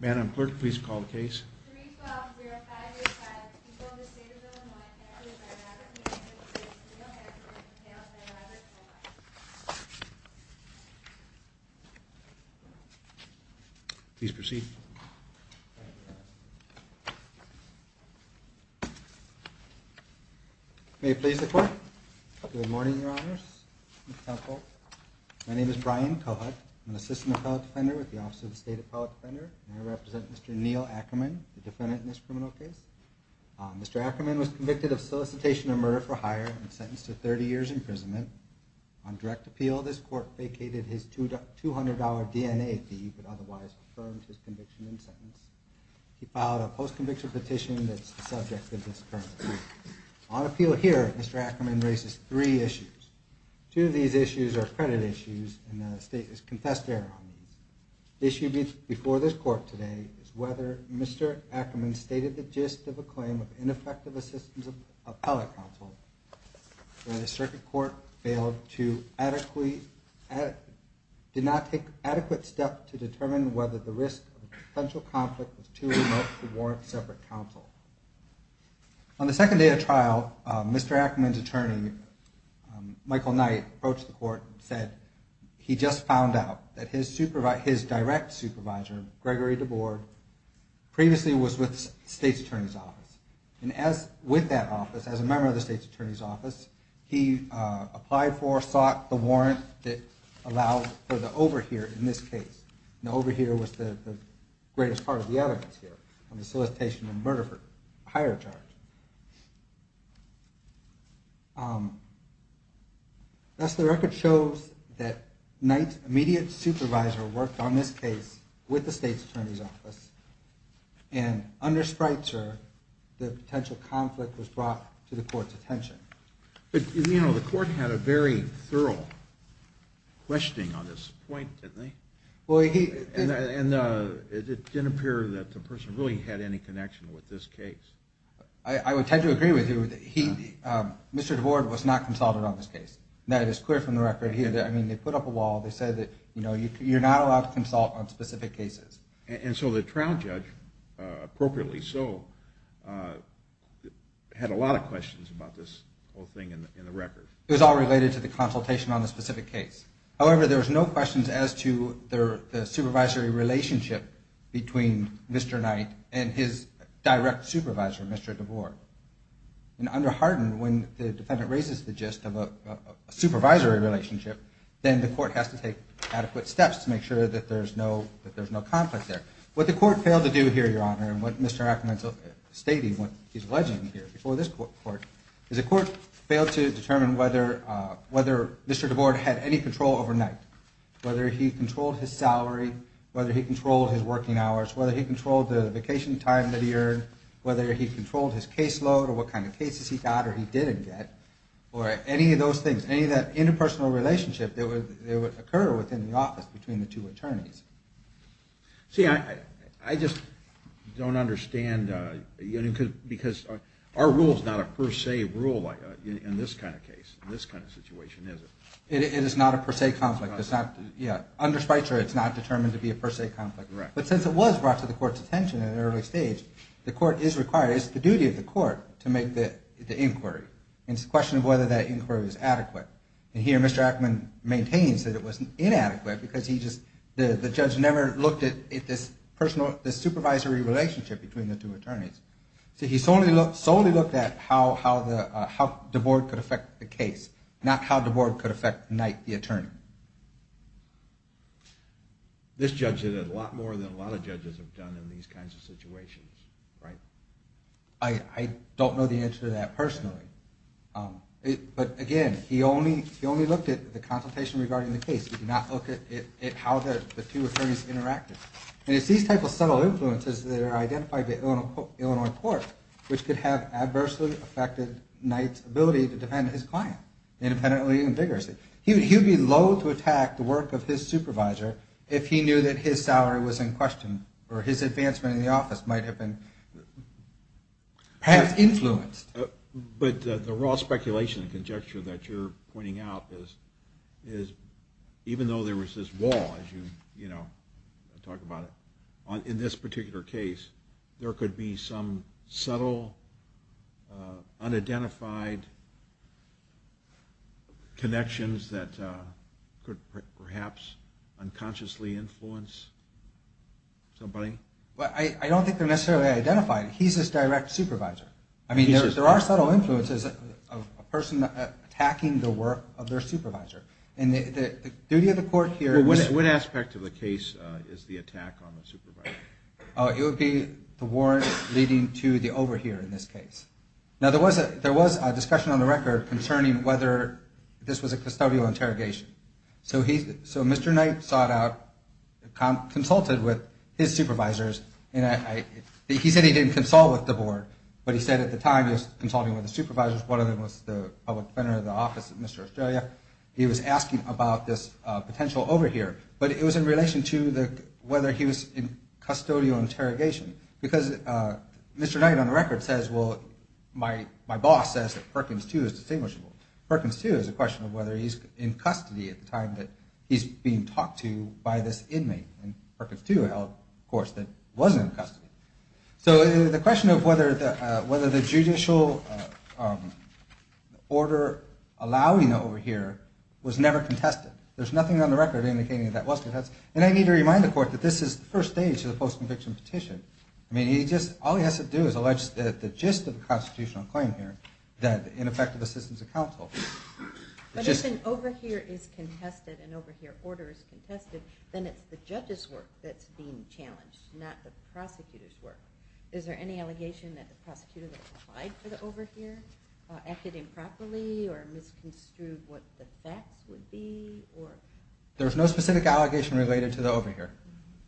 Madam Clerk, please call the case. 3-12-0-5-8-5. The people of the State of Illinois enter into a dramatic meeting to discuss the real history of the tale of Mayor Robert Cohut. Please proceed. May it please the Court. Good morning, Your Honors. Mr. Counsel. My name is Brian Cohut. I'm an Assistant Appellate Defender with the Office of the State Appellate Defender, and I represent Mr. Neil Ackerman, the defendant in this criminal case. Mr. Ackerman was convicted of solicitation of murder for hire and sentenced to 30 years' imprisonment. On direct appeal, this Court vacated his $200 DNA fee but otherwise confirmed his conviction in sentence. He filed a post-conviction petition that's the subject of this current appeal. On appeal here, Mr. Ackerman raises three issues. Two of these issues are credit issues, and the State has confessed error on these. The issue before this Court today is whether Mr. Ackerman stated the gist of a claim of ineffective assistance of appellate counsel where the circuit court failed to adequately... did not take adequate steps to determine whether the risk of potential conflict was too remote to warrant separate counsel. On the second day of trial, Mr. Ackerman's attorney, Michael Knight, approached the Court and said he just found out that his direct supervisor, Gregory DeBoard, previously was with the State's Attorney's Office. And as with that office, as a member of the State's Attorney's Office, he applied for or sought the warrant that allowed for the overhear in this case. The overhear was the greatest part of the evidence here on the solicitation of murder for hire charge. Thus, the record shows that Knight's immediate supervisor worked on this case with the State's Attorney's Office. And under Spreitzer, the potential conflict was brought to the Court's attention. But, you know, the Court had a very thorough questioning on this point, didn't they? Well, he... And it didn't appear that the person really had any connection with this case. I would tend to agree with you. Mr. DeBoard was not consulted on this case. That is clear from the record here. I mean, they put up a wall. They said that, you know, you're not allowed to consult on specific cases. And so the trial judge, appropriately so, had a lot of questions about this whole thing in the record. It was all related to the consultation on the specific case. However, there was no questions as to the supervisory relationship between Mr. Knight and his direct supervisor, Mr. DeBoard. And under Hardin, when the defendant raises the gist of a supervisory relationship, then the Court has to take adequate steps to make sure that there's no conflict there. What the Court failed to do here, Your Honor, and what Mr. Ackerman's stating, what he's alleging here before this Court, is the Court failed to determine whether Mr. DeBoard had any control overnight, whether he controlled his salary, whether he controlled his working hours, whether he controlled the vacation time that he earned, whether he controlled his caseload, or what kind of cases he got or he didn't get, or any of those things, any of that interpersonal relationship that would occur within the office between the two attorneys. See, I just don't understand, because our rule's not a per se rule in this kind of case, in this kind of situation, is it? It is not a per se conflict. Under Schweitzer, it's not determined to be a per se conflict. But since it was brought to the Court's attention at an early stage, the Court is required, it's the duty of the Court to make the inquiry. It's a question of whether that inquiry was adequate. And here Mr. Ackerman maintains that it was inadequate because the judge never looked at this supervisory relationship between the two attorneys. See, he solely looked at how DeBoard could affect the case, not how DeBoard could affect the attorney. This judge did a lot more than a lot of judges have done in these kinds of situations, right? I don't know the answer to that personally. But again, he only looked at the consultation regarding the case. He did not look at how the two attorneys interacted. And it's these type of subtle influences that are identified by the Illinois Court, which could have adversely affected Knight's ability to defend his client independently and vigorously. He would be low to attack the work of his supervisor if he knew that his salary was in question, or his advancement in the office might have been perhaps influenced. But the raw speculation and conjecture that you're pointing out is, even though there was this wall, as you talk about it, in this particular case, there could be some subtle, unidentified connections that could perhaps unconsciously influence somebody. Well, I don't think they're necessarily identified. He's his direct supervisor. I mean, there are subtle influences of a person attacking the work of their supervisor. And the duty of the court here... Well, what aspect of the case is the attack on the supervisor? It would be the warrant leading to the overhear in this case. Now, there was a discussion on the record concerning whether this was a custodial interrogation. So Mr. Knight sought out, consulted with his supervisors. He said he didn't consult with the board, but he said at the time he was consulting with the supervisors. One of them was the public defender of the office at Mr. Australia. He was asking about this potential overhear. But it was in relation to whether he was in custodial interrogation. Because Mr. Knight, on the record, says, well, my boss says that Perkins, too, is distinguishable. Perkins, too, is a question of whether he's in custody at the time that he's being talked to by this inmate. And Perkins, too, of course, was in custody. So the question of whether the judicial order allowing the overhear was never contested. There's nothing on the record indicating that that was contested. And I need to remind the court that this is the first stage of the post-conviction petition. I mean, all he has to do is allege the gist of the constitutional claim here, that ineffective assistance of counsel. But if an overhear is contested, an overhear order is contested, then it's the judge's work that's being challenged, not the prosecutor's work. Is there any allegation that the prosecutor that applied for the overhear acted improperly or misconstrued what the facts would be? There's no specific allegation related to the overhear.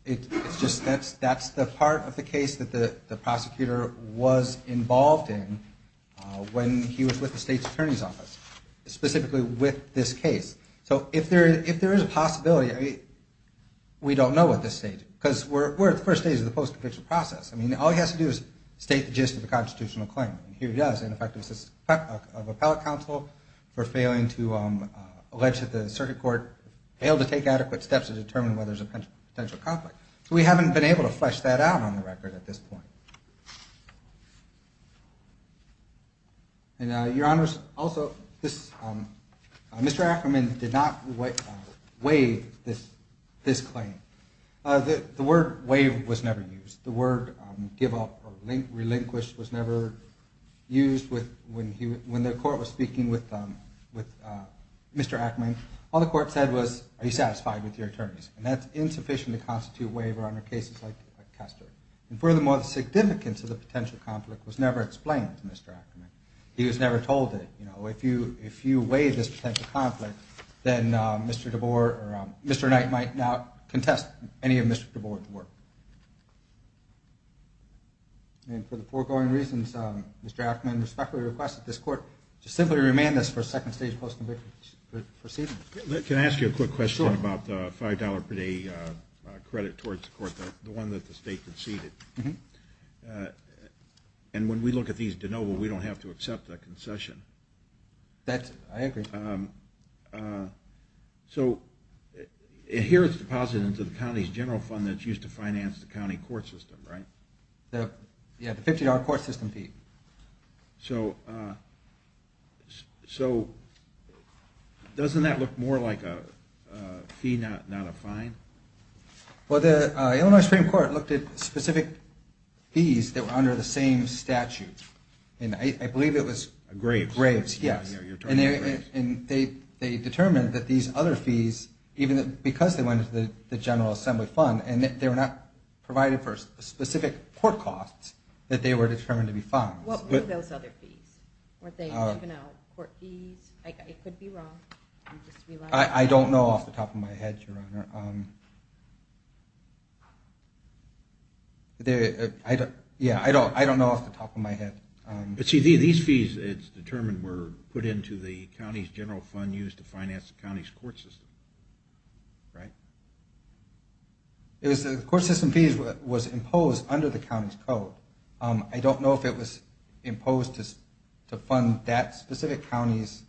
It's just that's the part of the case that the prosecutor was involved in when he was with the state's attorney's office, specifically with this case. So if there is a possibility, we don't know at this stage because we're at the first stage of the post-conviction process. I mean, all he has to do is state the gist of the constitutional claim. And here he does, ineffective assistance of appellate counsel for failing to allege that the circuit court failed to take adequate steps to determine whether there's a potential conflict. So we haven't been able to flesh that out on the record at this point. Your Honors, also, Mr. Ackerman did not waive this claim. The word waive was never used. The word give up or relinquish was never used when the court was speaking with Mr. Ackerman. All the court said was, are you satisfied with your terms? And that's insufficient to constitute waiver under cases like Kester. And furthermore, the significance of the potential conflict was never explained to Mr. Ackerman. He was never told it. If you waive this potential conflict, then Mr. Knight might not contest any of Mr. DeBoer's work. And for the foregoing reasons, Mr. Ackerman respectfully requests that this court simply remand this for second stage post-conviction proceedings. Let me ask you a quick question about the $5 per day credit towards the court, the one that the state conceded. And when we look at these de novo, we don't have to accept the concession. I agree. So here it's deposited into the county's general fund that's used to finance the county court system, right? Yeah, the $50 court system fee. So doesn't that look more like a fee, not a fine? Well, the Illinois Supreme Court looked at specific fees that were under the same statute, and I believe it was Graves. Graves, yes. And they determined that these other fees, even because they went into the general assembly fund and they were not provided for specific court costs, that they were determined to be funds. What were those other fees? Were they living out court fees? It could be wrong. I don't know off the top of my head, Your Honor. Yeah, I don't know off the top of my head. But see, these fees, it's determined, were put into the county's general fund used to finance the county's court system. Right? The court system fee was imposed under the county's code. I don't know if it was imposed to fund that specific county's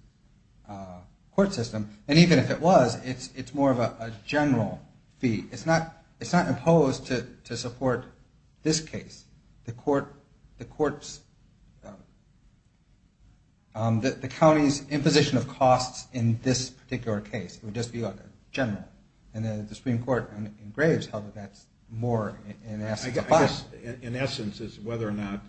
court system. And even if it was, it's more of a general fee. It's not imposed to support this case. It's the court's, the county's imposition of costs in this particular case. It would just be like a general. And then the Supreme Court in Graves held that that's more in essence. I guess in essence is whether or not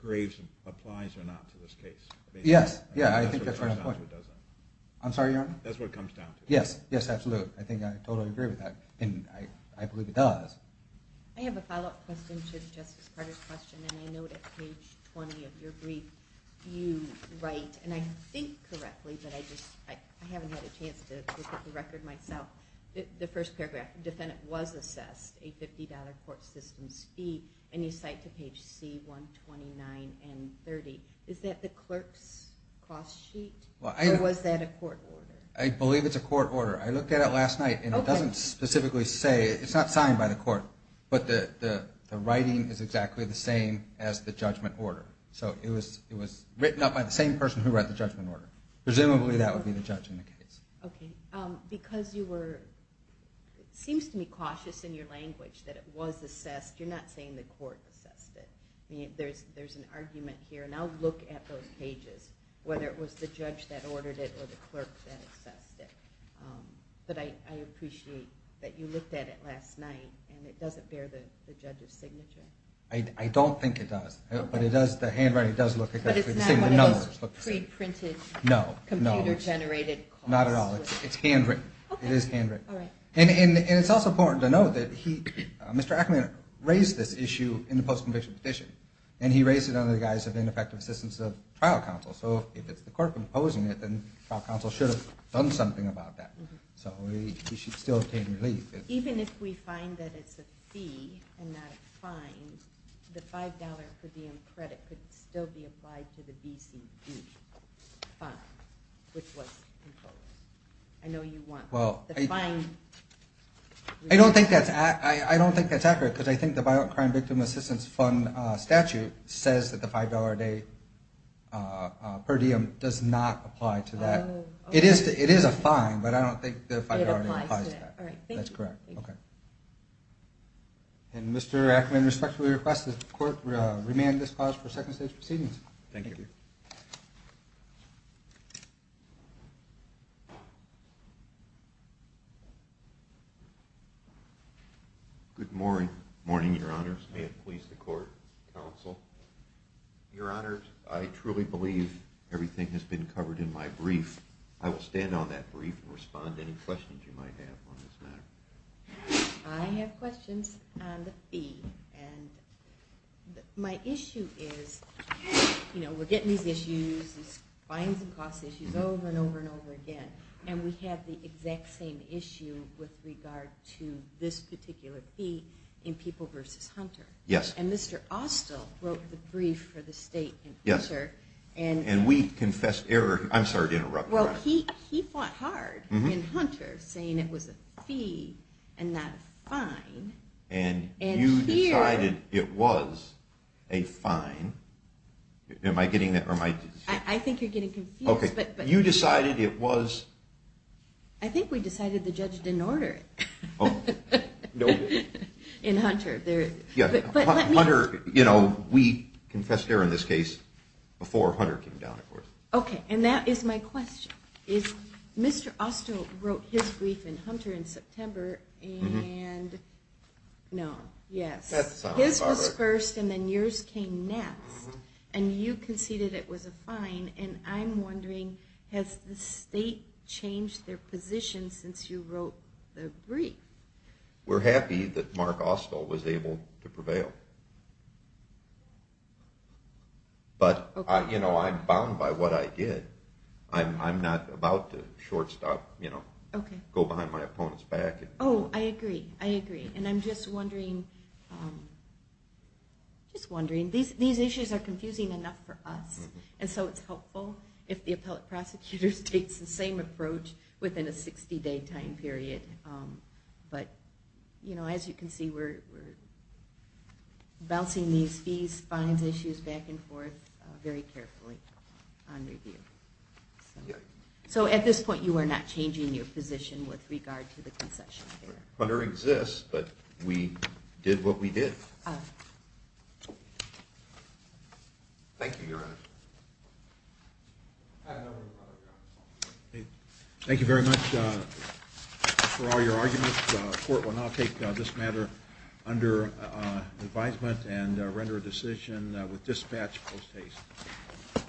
Graves applies or not to this case. Yes, yeah, I think that's right on point. I'm sorry, Your Honor? That's what it comes down to. Yes, yes, absolutely. I think I totally agree with that, and I believe it does. I have a follow-up question to Justice Carter's question. And I note at page 20 of your brief, you write, and I think correctly, but I haven't had a chance to look at the record myself. The first paragraph, defendant was assessed a $50 court system's fee. And you cite to page C, 129 and 30. Is that the clerk's cost sheet? Or was that a court order? I believe it's a court order. I looked at it last night, and it doesn't specifically say. It's not signed by the court. But the writing is exactly the same as the judgment order. So it was written up by the same person who read the judgment order. Presumably that would be the judge in the case. Okay. Because you were, it seems to me cautious in your language that it was assessed. You're not saying the court assessed it. There's an argument here, and I'll look at those pages, whether it was the judge that ordered it or the clerk that assessed it. But I appreciate that you looked at it last night, and it doesn't bear the judge's signature. I don't think it does. But the handwriting does look exactly the same. But it's not one of those pre-printed, computer-generated costs? Not at all. It's handwritten. It is handwritten. And it's also important to note that Mr. Ackerman raised this issue in the post-conviction petition, and he raised it under the guise of ineffective assistance of trial counsel. So if it's the court composing it, then trial counsel should have done something about that. So we should still obtain relief. Even if we find that it's a fee and not a fine, the $5 per diem credit could still be applied to the BCD fund, which was imposed. I know you want the fine. I don't think that's accurate, because I think the Violent Crime Victim Assistance Fund statute says that the $5 per diem does not apply to that. It is a fine, but I don't think the $5 applies to that. That's correct. Okay. And Mr. Ackerman, respectfully request that the court remand this clause for second stage proceedings. Thank you. Good morning. Good morning, Your Honors. May it please the court, counsel. Your Honors, I truly believe everything has been covered in my brief. I will stand on that brief and respond to any questions you might have on this matter. I have questions on the fee. And my issue is, you know, we're getting these issues, these fines and costs issues over and over and over again, and we have the exact same issue with regard to this particular fee in People v. Hunter. Yes. And Mr. Austell wrote the brief for the state. Yes. And we confessed error. I'm sorry to interrupt. Well, he fought hard in Hunter saying it was a fee and not a fine. And you decided it was a fine. Am I getting that right? I think you're getting confused. Okay. But you decided it was. I think we decided the judge didn't order it. In Hunter. Hunter, you know, we confessed error in this case before Hunter came down, of course. Okay. And that is my question. Is Mr. Austell wrote his brief in Hunter in September? And no. Yes. His was first and then yours came next. And you conceded it was a fine. And I'm wondering, has the state changed their position since you wrote the brief? We're happy that Mark Austell was able to prevail. But, you know, I'm bound by what I did. I'm not about to shortstop, you know, go behind my opponent's back. Oh, I agree. I agree. And I'm just wondering, just wondering. These issues are confusing enough for us. And so it's helpful if the appellate prosecutor states the same approach within a 60-day time period. But, you know, as you can see, we're bouncing these fees, fines issues back and forth very carefully on review. So at this point, you are not changing your position with regard to the concession. Hunter exists, but we did what we did. Thank you, Your Honor. Thank you very much for all your arguments. The court will now take this matter under advisement and render a decision with dispatch post haste.